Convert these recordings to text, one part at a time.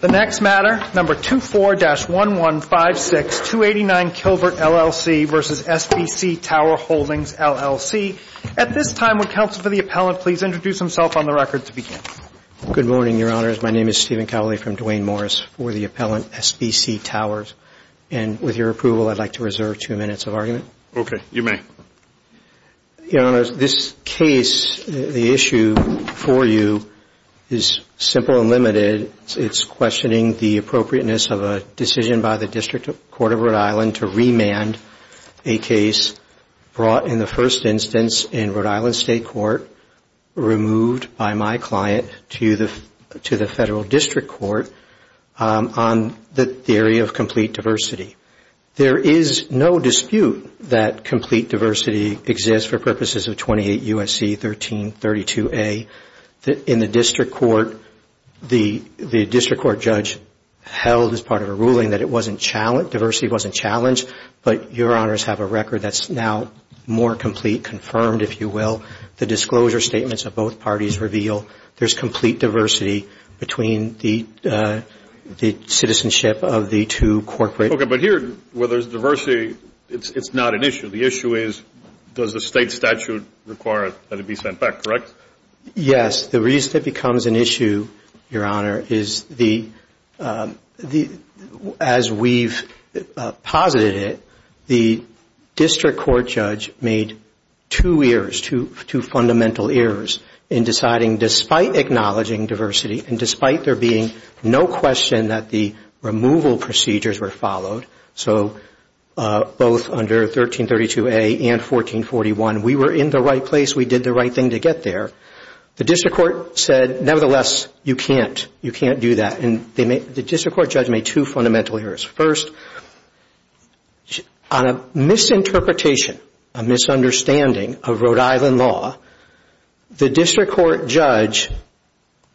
The next matter, number 24-1156, 289 Kilvert, LLC v. SBC Tower Holdings, LLC. At this time, would counsel for the appellant please introduce himself on the record to begin? Good morning, your honors. My name is Stephen Cowley from Duane Morris for the appellant, SBC Towers. And with your approval, I'd like to reserve two minutes of argument. Okay, you may. Your honors, this case, the issue for you is simple and limited. It's questioning the appropriateness of a decision by the District Court of Rhode Island to remand a case brought in the first instance in Rhode Island State Court, removed by my client to the Federal District Court on the theory of complete diversity. There is no dispute that complete diversity exists for purposes of 28 U.S.C. 1332A. In the district court, the district court judge held as part of a ruling that it wasn't challenged, diversity wasn't challenged, but your honors have a record that's now more complete, confirmed, if you will. The disclosure statements of both parties reveal there's complete diversity between the citizenship of the two corporate... Okay, but here where there's diversity, it's not an issue. The issue is does the state statute require that it be sent back, correct? Yes. The reason it becomes an issue, your honor, is as we've posited it, the district court judge made two ears, two fundamental ears in deciding, despite acknowledging diversity and despite there being no question that the removal procedures were followed, so both under 1332A and 1441, we were in the right place, we did the right thing to get there. The district court said, nevertheless, you can't, you can't do that. The district court judge made two fundamental ears. First, on a misinterpretation, a misunderstanding of Rhode Island law, the district court judge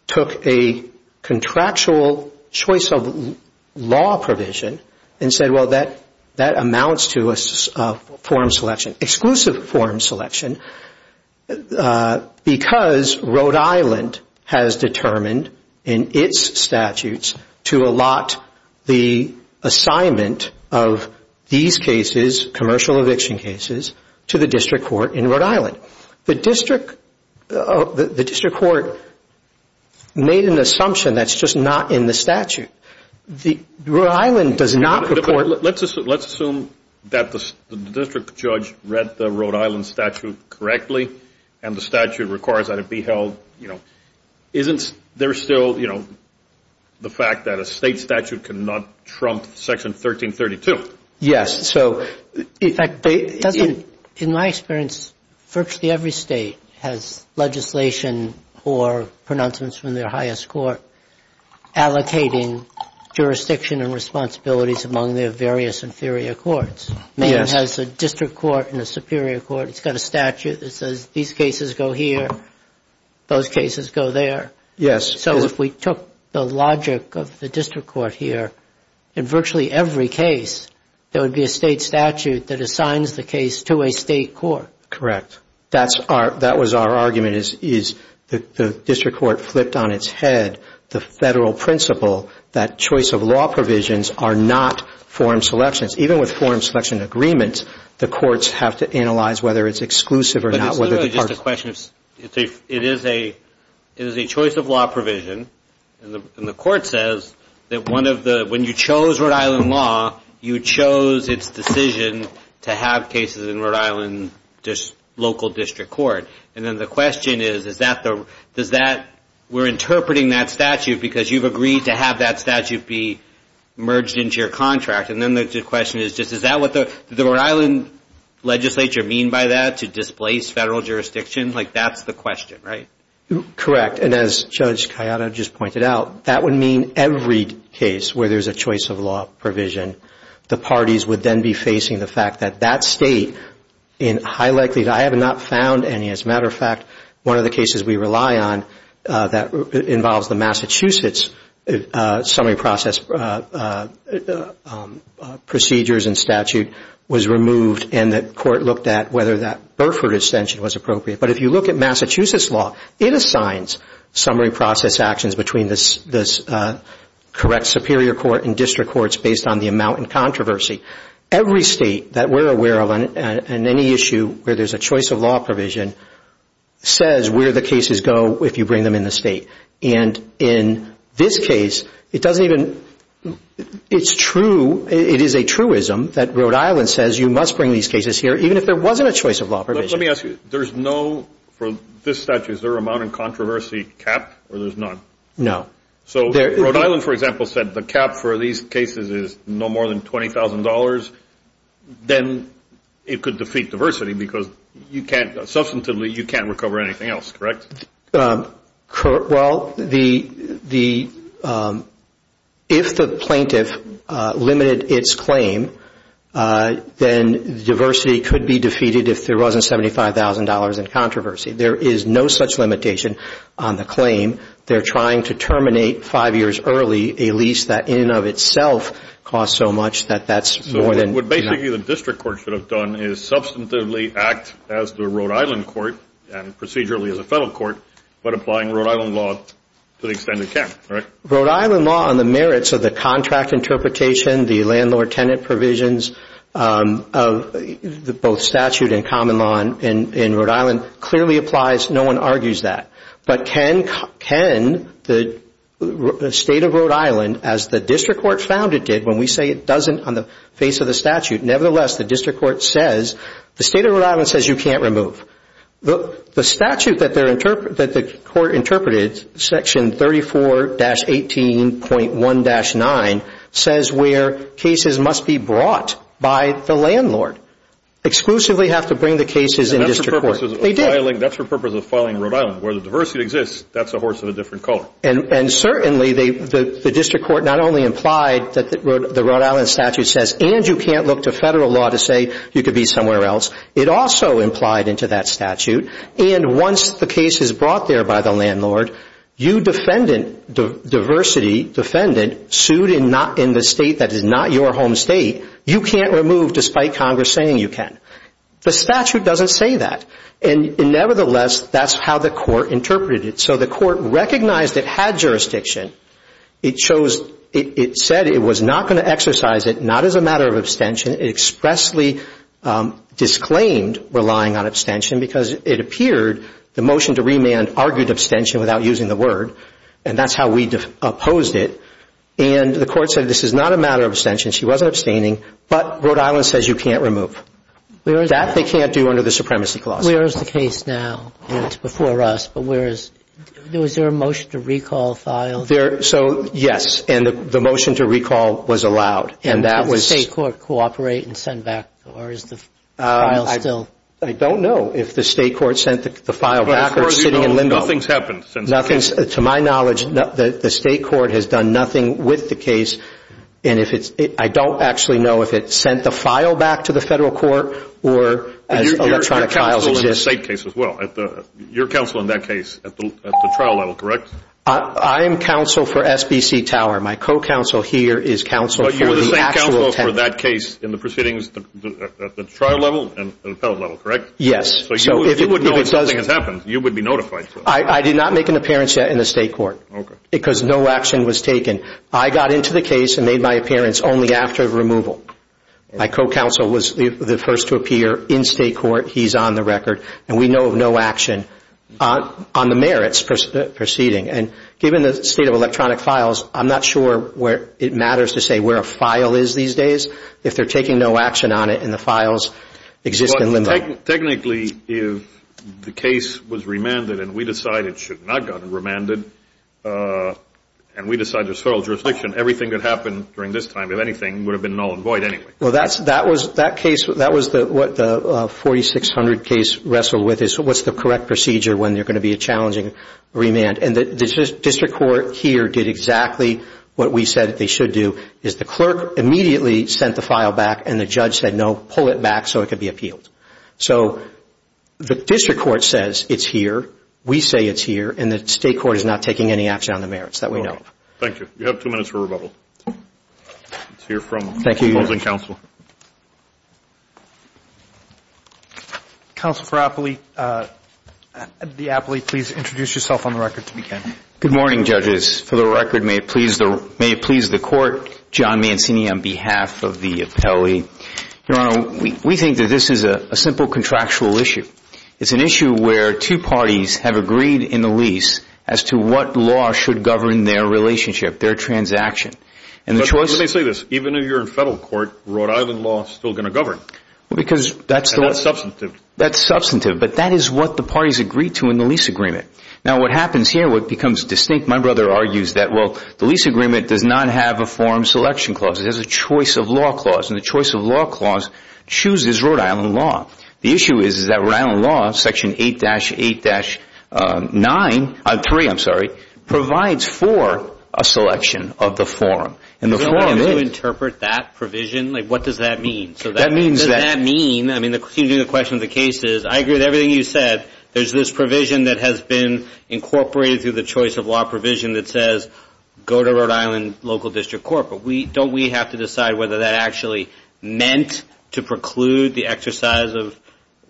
took a contractual choice of law provision and said, well, that amounts to a form selection, exclusive form selection, because Rhode Island has determined in its statutes to allot the assignment of these cases, commercial eviction cases, to the district court in Rhode Island. The district court made an assumption that's just not in the statute. Rhode Island does not report... Let's assume that the district judge read the Rhode Island statute correctly and the statute requires that it be held, you know, isn't there still, you know, the fact that a state statute cannot trump section 1332? Yes, so, in fact, doesn't, in my experience, virtually every state has legislation or pronouncements from their highest court allocating jurisdiction and responsibilities among their various inferior courts. Maine has a district court and a superior court. It's got a statute that says these cases go here, those cases go there. Yes. So, if we took the logic of the district court here, in virtually every case, there would be a state statute that assigns the case to a state court. Correct. That's our, that was our argument, is the district court flipped on its head the federal principle that choice of law provisions are not form selections. Even with form selection agreements, the courts have to analyze whether it's exclusive or not. It's literally just a question of, it is a, it is a choice of law provision and the court says that one of the, when you chose Rhode Island law, you chose its decision to have cases in Rhode Island just local district court. And then the question is, is that the, does that, we're interpreting that statute because you've agreed to have that statute be merged into your contract and then the question is just, is that what the Rhode Island legislature mean by that, to displace federal jurisdiction? Like, that's the question, right? Correct. And as Judge Kayada just pointed out, that would mean every case where there's a choice of law provision, the parties would then be facing the fact that that state in high likelihood, I have not found any, as a matter of fact, one of the cases we rely on that involves the Massachusetts summary process procedures and statute was removed and the court looked at whether that Burford extension was appropriate. But if you look at Massachusetts law, it assigns summary process actions between this, this correct superior court and district courts based on the amount and controversy. Every state that we're aware of on any issue where there's a choice of law provision says where the cases go if you bring them in the state. And in this case, it doesn't even, it's true, it is a truism that Rhode Island says you must bring these cases here even if there wasn't a choice of law provision. Let me ask you, there's no, for this statute, is there a amount of controversy cap or there's none? No. So Rhode Island, for example, said the cap for these cases is no more than $20,000, then it could defeat diversity because you can't, substantively, you can't recover anything else, correct? Well, the, if the plaintiff limited its claim, then diversity could be defeated if there wasn't $75,000 in controversy. There is no such limitation on the claim. They're trying to terminate five years early a lease that in and of itself costs so much that that's more than. So what basically the district court should have done is substantively act as the Rhode Island court and procedurally as a federal court, but applying Rhode Island law to the extended camp, correct? Rhode Island law on the merits of the contract interpretation, the landlord-tenant provisions of both statute and common law in Rhode Island clearly applies. No one argues that. But can the state of Rhode Island, as the district court found it did, when we say it doesn't on the face of the statute, nevertheless, the district court says, the state of Rhode Island says you can't remove. The statute that the court interpreted, section 34-18.1-9, says where cases must be brought by the landlord. Exclusively have to bring the cases in the district court. And that's for purposes of filing in Rhode Island. Where the diversity exists, that's a horse of a different color. And certainly the district court not only implied that the Rhode Island statute says, and you can't look to federal law to say you could be somewhere else. It also implied into that statute. And once the case is brought there by the landlord, you defendant, diversity defendant, sued in the state that is not your home state, you can't remove despite Congress saying you can. The statute doesn't say that. And nevertheless, that's how the court interpreted it. So the court recognized it had jurisdiction. It chose, it said it was not going to exercise it, not as a matter of abstention. It expressly disclaimed relying on abstention because it appeared the motion to remand argued abstention without using the word. And that's how we opposed it. And the court said this is not a matter of but Rhode Island says you can't remove. That they can't do under the supremacy clause. Where is the case now? It's before us. But where is, was there a motion to recall file? There, so yes. And the motion to recall was allowed. And that was Did the state court cooperate and send back, or is the file still? I don't know if the state court sent the file back or sitting in limbo. As far as you know, nothing's happened since the case. To my knowledge, the state court has done nothing with the case. And if it's, I don't actually know if it sent the file back to the federal court or as electronic files exist. Your counsel in the state case as well. Your counsel in that case at the trial level, correct? I am counsel for SBC Tower. My co-counsel here is counsel for the actual tenant. But you were the same counsel for that case in the proceedings, at the trial level and appellate level, correct? Yes. So you would know if something has happened, you would be notified. I did not make an appearance yet in the state court because no action was taken. I got into the case and made my appearance only after the removal. My co-counsel was the first to appear in state court. He's on the record. And we know of no action on the merits proceeding. And given the state of electronic files, I'm not sure where it matters to say where a file is these days if they're taking no action on it and the files exist in limbo. Technically, if the case was remanded and we decided it should not have gotten remanded and we decided there's federal jurisdiction, everything that happened during this time, if anything, would have been null and void anyway. Well, that was what the 4600 case wrestled with is what's the correct procedure when there's going to be a challenging remand. And the district court here did exactly what we said they should do, is the clerk immediately sent the file back and the judge said, no, pull it back so it could be appealed. So the district court says it's here, we say it's here, and the state court is not taking any action on the merits. That we know. Thank you. You have two minutes for rebuttal. Let's hear from the opposing counsel. Counsel for the appellee, please introduce yourself on the record to begin. Good morning, judges. For the record, may it please the court, John Mancini on behalf of the appellee. Your Honor, we think that this is a simple contractual issue. It's an issue where two parties have agreed in the lease as to what law should govern their relationship, their transaction. But let me say this, even if you're in federal court, Rhode Island law is still going to govern. And that's substantive. That's substantive. But that is what the parties agreed to in the lease agreement. Now, what happens here, what becomes distinct, my brother argues that, well, the lease agreement does not have a form selection clause. It has a choice of law clause. And the choice of law clause chooses Rhode Island law. The issue is that Rhode Island law, section 8-8-9, 3, I'm sorry, provides for a selection of the form. And the form is- So how do you interpret that provision? Like, what does that mean? So that means that- What does that mean? I mean, the question of the case is, I agree with everything you said. There's this provision that has been incorporated through the choice of law provision that says, go to Rhode Island local district court. But don't we have to decide whether that actually meant to preclude the exercise of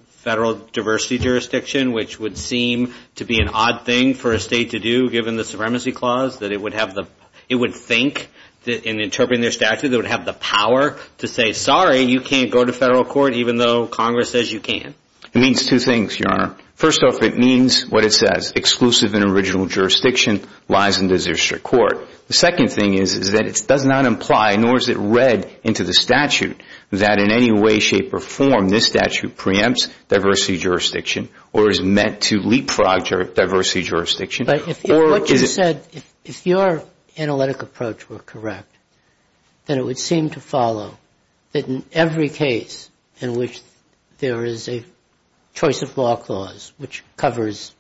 federal diversity jurisdiction, which would seem to be an odd thing for a state to do, given the supremacy clause, that it would have the- it would think that in interpreting their statute, they would have the power to say, sorry, you can't go to federal court, even though Congress says you can. It means two things, Your Honor. First off, it means what it says, exclusive and original jurisdiction lies in the district court. The second thing is that it does not imply, nor is it read into the statute, that in any way, shape, or form, this statute preempts diversity jurisdiction or is meant to leapfrog diversity jurisdiction. But what you said, if your analytic approach were correct, then it would seem to follow that in every case in which there is a choice of law clause, which covers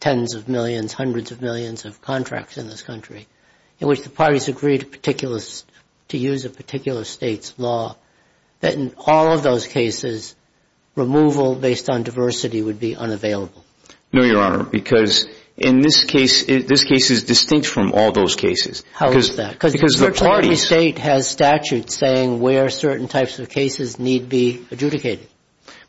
tens of millions, hundreds of millions of contracts in this country, in which the parties agree to particular- to use a particular state's law, that in all of those cases, removal based on diversity would be unavailable. No, Your Honor, because in this case, this case is distinct from all those cases. How is that? Because virtually every state has statutes saying where certain types of cases need be adjudicated.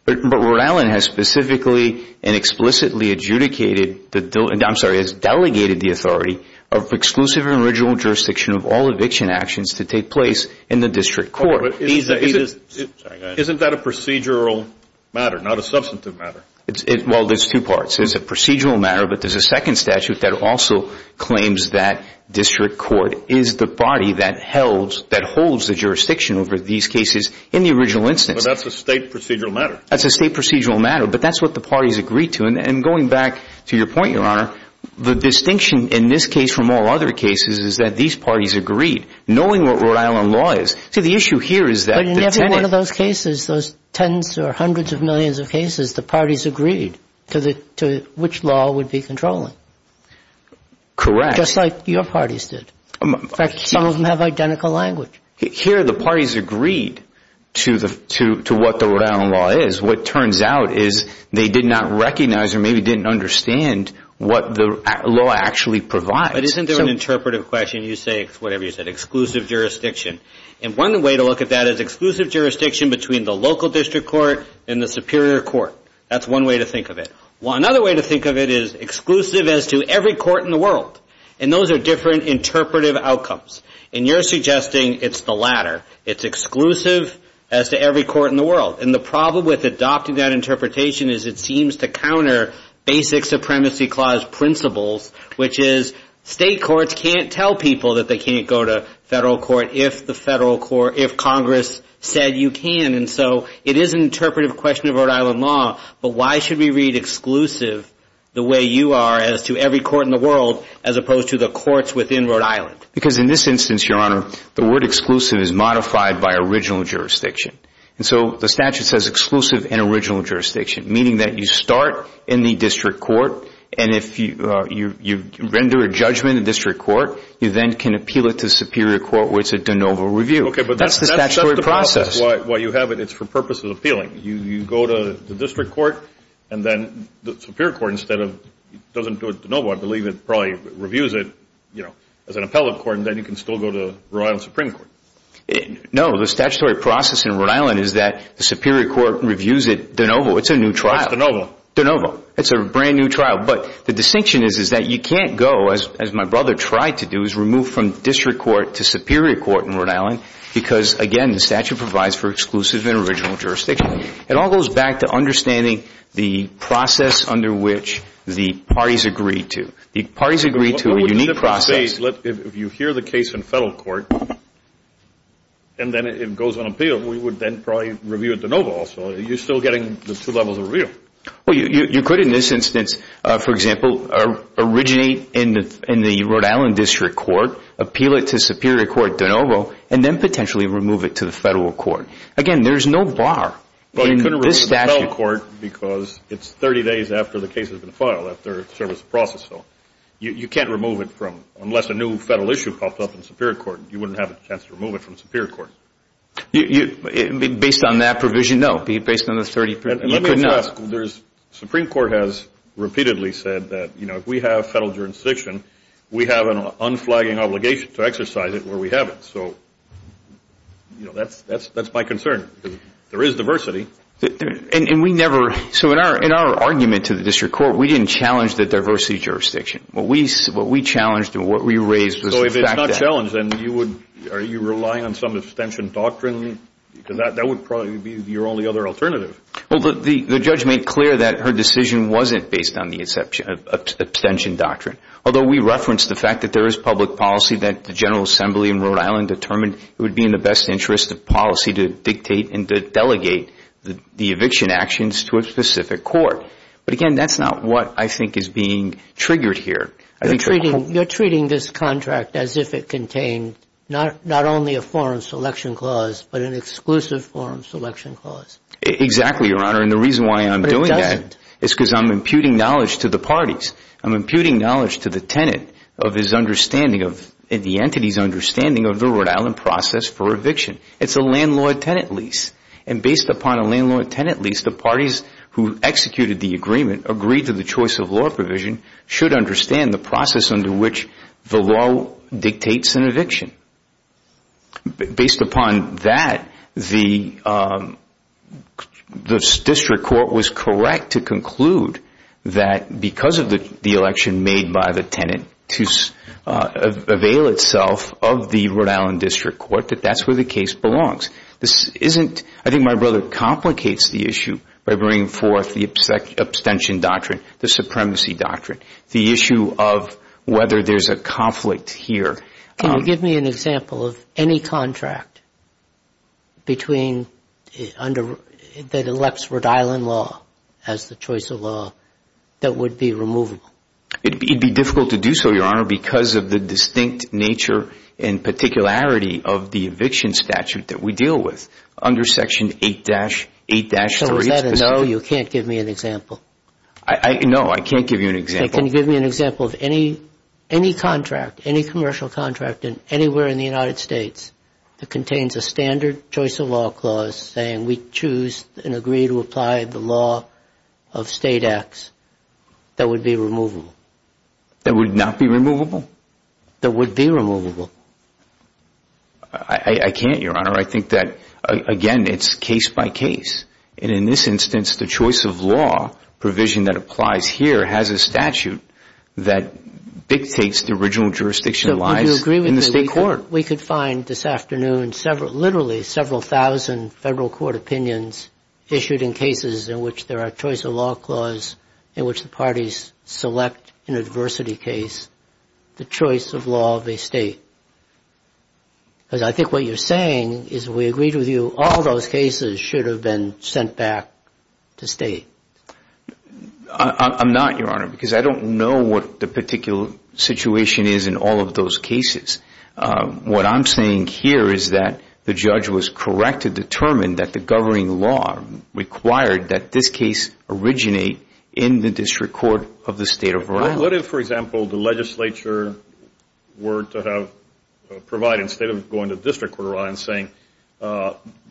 But Rhode Island has specifically and explicitly adjudicated the- I'm sorry, has delegated the authority of exclusive and original jurisdiction of all eviction actions to take place in the district court. Isn't that a procedural matter, not a substantive matter? Well, there's two parts. There's a procedural matter, but there's a second statute that also claims that district court is the body that holds the jurisdiction over these cases in the original instance. That's a state procedural matter. That's a state procedural matter, but that's what the parties agreed to. And going back to your point, Your Honor, the distinction in this case from all other cases is that these parties agreed, knowing what Rhode Island law is. See, the issue here is that- But in every one of those cases, those tens or hundreds of millions of cases, the parties agreed to which law would be controlling. Correct. Just like your parties did. In fact, some of them have identical language. Here, the parties agreed to what the Rhode Island law is. What turns out is they did not recognize or maybe didn't understand what the law actually provides. But isn't there an interpretive question? You say, whatever you said, exclusive jurisdiction. And one way to look at that is exclusive jurisdiction between the local district court and the superior court. That's one way to think of it. Well, another way to think of it is exclusive as to every court in the world. And those are different interpretive outcomes. And you're suggesting it's the latter. It's exclusive as to every court in the world. And the problem with adopting that interpretation is it seems to counter basic Supremacy Clause principles, which is state courts can't tell people that they can't go to federal court if the federal court, if Congress said you can. And so it is an interpretive question of Rhode Island law. But why should we read exclusive the way you are as to every court in the world, as opposed to the courts within Rhode Island? Because in this instance, Your Honor, the word exclusive is modified by original jurisdiction. And so the statute says exclusive and original jurisdiction, meaning that you start in the district court. And if you render a judgment in the district court, you then can appeal it to the superior court where it's a de novo review. OK, but that's the statutory process. Well, you have it. It's for purposes of appealing. You go to the district court. And then the superior court, instead of, doesn't do it de novo. I believe it probably reviews it as an appellate court. And then you can still go to Rhode Island Supreme Court. No, the statutory process in Rhode Island is that the superior court reviews it de novo. It's a new trial. De novo. It's a brand new trial. But the distinction is that you can't go, as my brother tried to do, is remove from district court to superior court in Rhode Island. Because again, the statute provides for exclusive and original jurisdiction. It all goes back to understanding the process under which the parties agree to. The parties agree to a unique process. If you hear the case in federal court, and then it goes on appeal, we would then probably review it de novo also. You're still getting the two levels of review. Well, you could, in this instance, for example, originate in the Rhode Island district court, appeal it to superior court de novo, and then potentially remove it to the federal court. Again, there's no bar in this statute. Well, you couldn't remove it to federal court because it's 30 days after the case has been filed, after the service of process. So you can't remove it from, unless a new federal issue popped up in superior court, you wouldn't have a chance to remove it from superior court. Based on that provision? No. Based on the 30, you could not. And let me just ask, Supreme Court has repeatedly said that if we have federal jurisdiction, we have an unflagging obligation to exercise it where we have it. So that's my concern. There is diversity. And we never... So in our argument to the district court, we didn't challenge the diversity jurisdiction. What we challenged and what we raised was the fact that... So if it's not challenged, then you would... Are you relying on some abstention doctrine? That would probably be your only other alternative. Well, the judge made clear that her decision wasn't based on the abstention doctrine. Although we referenced the fact that there is public policy that the General Assembly in Rhode Island determined it would be in the best interest of policy to dictate and to delegate the eviction actions to a specific court. But again, that's not what I think is being triggered here. You're treating this contract as if it contained not only a foreign selection clause, but an exclusive foreign selection clause. Exactly, Your Honor. And the reason why I'm doing that is because I'm imputing knowledge to the parties. I'm imputing knowledge to the tenant of the entity's understanding of the Rhode Island process for eviction. It's a landlord-tenant lease. And based upon a landlord-tenant lease, the parties who executed the agreement agreed to the choice of law provision should understand the process under which the law dictates an eviction. Based upon that, the district court was correct to conclude that because of the election made by the tenant to avail itself of the Rhode Island district court, that that's where the case belongs. This isn't... I think my brother complicates the issue by bringing forth the abstention doctrine, the supremacy doctrine, the issue of whether there's a conflict here. Can you give me an example of any contract that elects Rhode Island law as the choice of law that would be removable? It'd be difficult to do so, Your Honor, because of the distinct nature and particularity of the eviction statute that we deal with under Section 8-3H. So is that a no, you can't give me an example? No, I can't give you an example. Can you give me an example of any contract, any commercial contract anywhere in the United States that contains a standard choice of law clause saying we choose and agree to apply the law of state acts that would be removable? That would not be removable? That would be removable. I can't, Your Honor. I think that, again, it's case by case. And in this instance, the choice of law provision that applies here has a statute that dictates the original jurisdiction lies in the state court. We could find this afternoon literally several thousand federal court opinions issued in cases in which there are choice of law clause in which the parties select in a diversity case the choice of law of a state. Because I think what you're saying is we agreed with you all those cases should have been sent back to state. I'm not, Your Honor, because I don't know what the particular situation is in all of those cases. What I'm saying here is that the judge was correct to determine that the governing law required that this case originate in the district court of the state of Orion. What if, for example, the legislature were to have provided, instead of going to district court of Orion, saying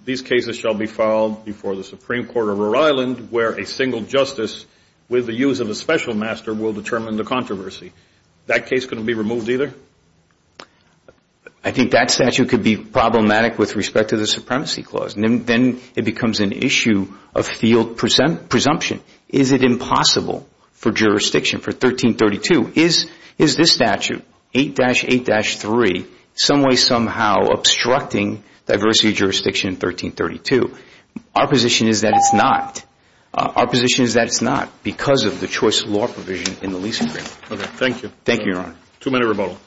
these cases shall be filed before the Supreme Court of Rhode Island where a single justice with the use of a special master will determine the controversy? That case couldn't be removed either? I think that statute could be problematic with respect to the supremacy clause. Then it becomes an issue of field presumption. Is it impossible for jurisdiction for 1332? Is this statute, 8-8-3, some way, somehow obstructing diversity jurisdiction in 1332? Our position is that it's not. Our position is that it's not because of the choice of law provision in the lease agreement. Okay. Thank you. Thank you, Your Honor. Too many rebuttal.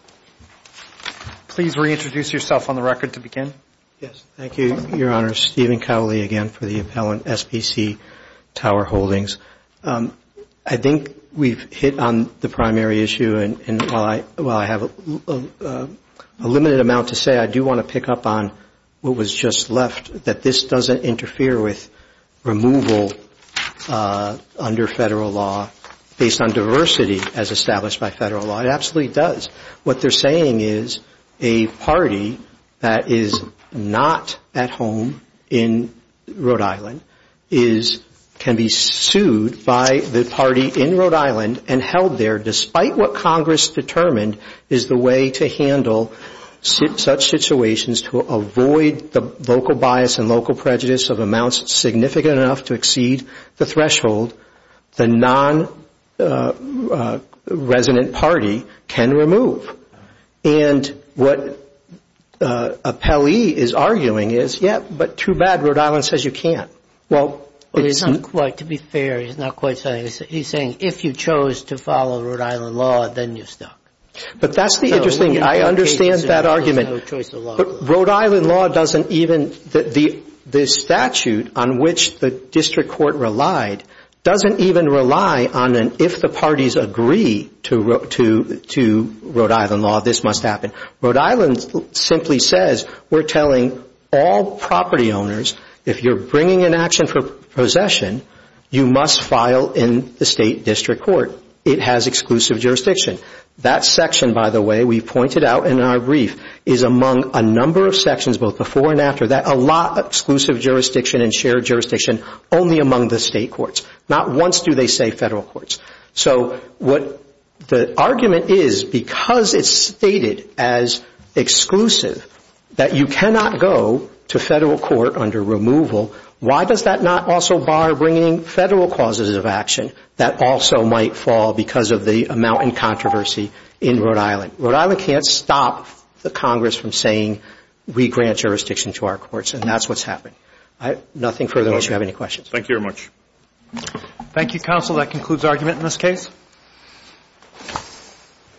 Please reintroduce yourself on the record to begin. Yes. Thank you, Your Honor. Stephen Cowley again for the appellant, SPC Tower Holdings. I think we've hit on the primary issue and while I have a limited amount to say, I do want to pick up on what was just left, that this doesn't interfere with removal under federal law based on diversity as established by federal law. It absolutely does. What they're saying is a party that is not at home in Rhode Island can be sued by the party in Rhode Island and held there despite what Congress determined is the way to handle such situations to avoid the local bias and local prejudice of amounts significant enough to exceed the threshold the non-resident party can remove. And what appellee is arguing is, yeah, but too bad Rhode Island says you can't. Well, it's not quite to be fair. He's not quite saying. He's saying if you chose to follow Rhode Island law, then you're stuck. But that's the interesting. I understand that argument. Rhode Island law doesn't even, the statute on which the district court relied doesn't even rely on an if the parties agree to Rhode Island law, this must happen. Rhode Island simply says we're telling all property owners if you're bringing an action for possession, you must file in the state district court. It has exclusive jurisdiction. That section, by the way, we pointed out in our brief is among a number of sections, both before and after that, a lot of exclusive jurisdiction and shared jurisdiction only among the state courts. Not once do they say federal courts. So what the argument is, because it's stated as exclusive that you cannot go to federal court under removal, why does that not also bar bringing federal causes of action that also might fall because of the amount in controversy in Rhode Island? Rhode Island can't stop the Congress from saying we grant jurisdiction to our courts and that's what's happened. Nothing further unless you have any questions. Thank you very much. Thank you, counsel. That concludes argument in this case.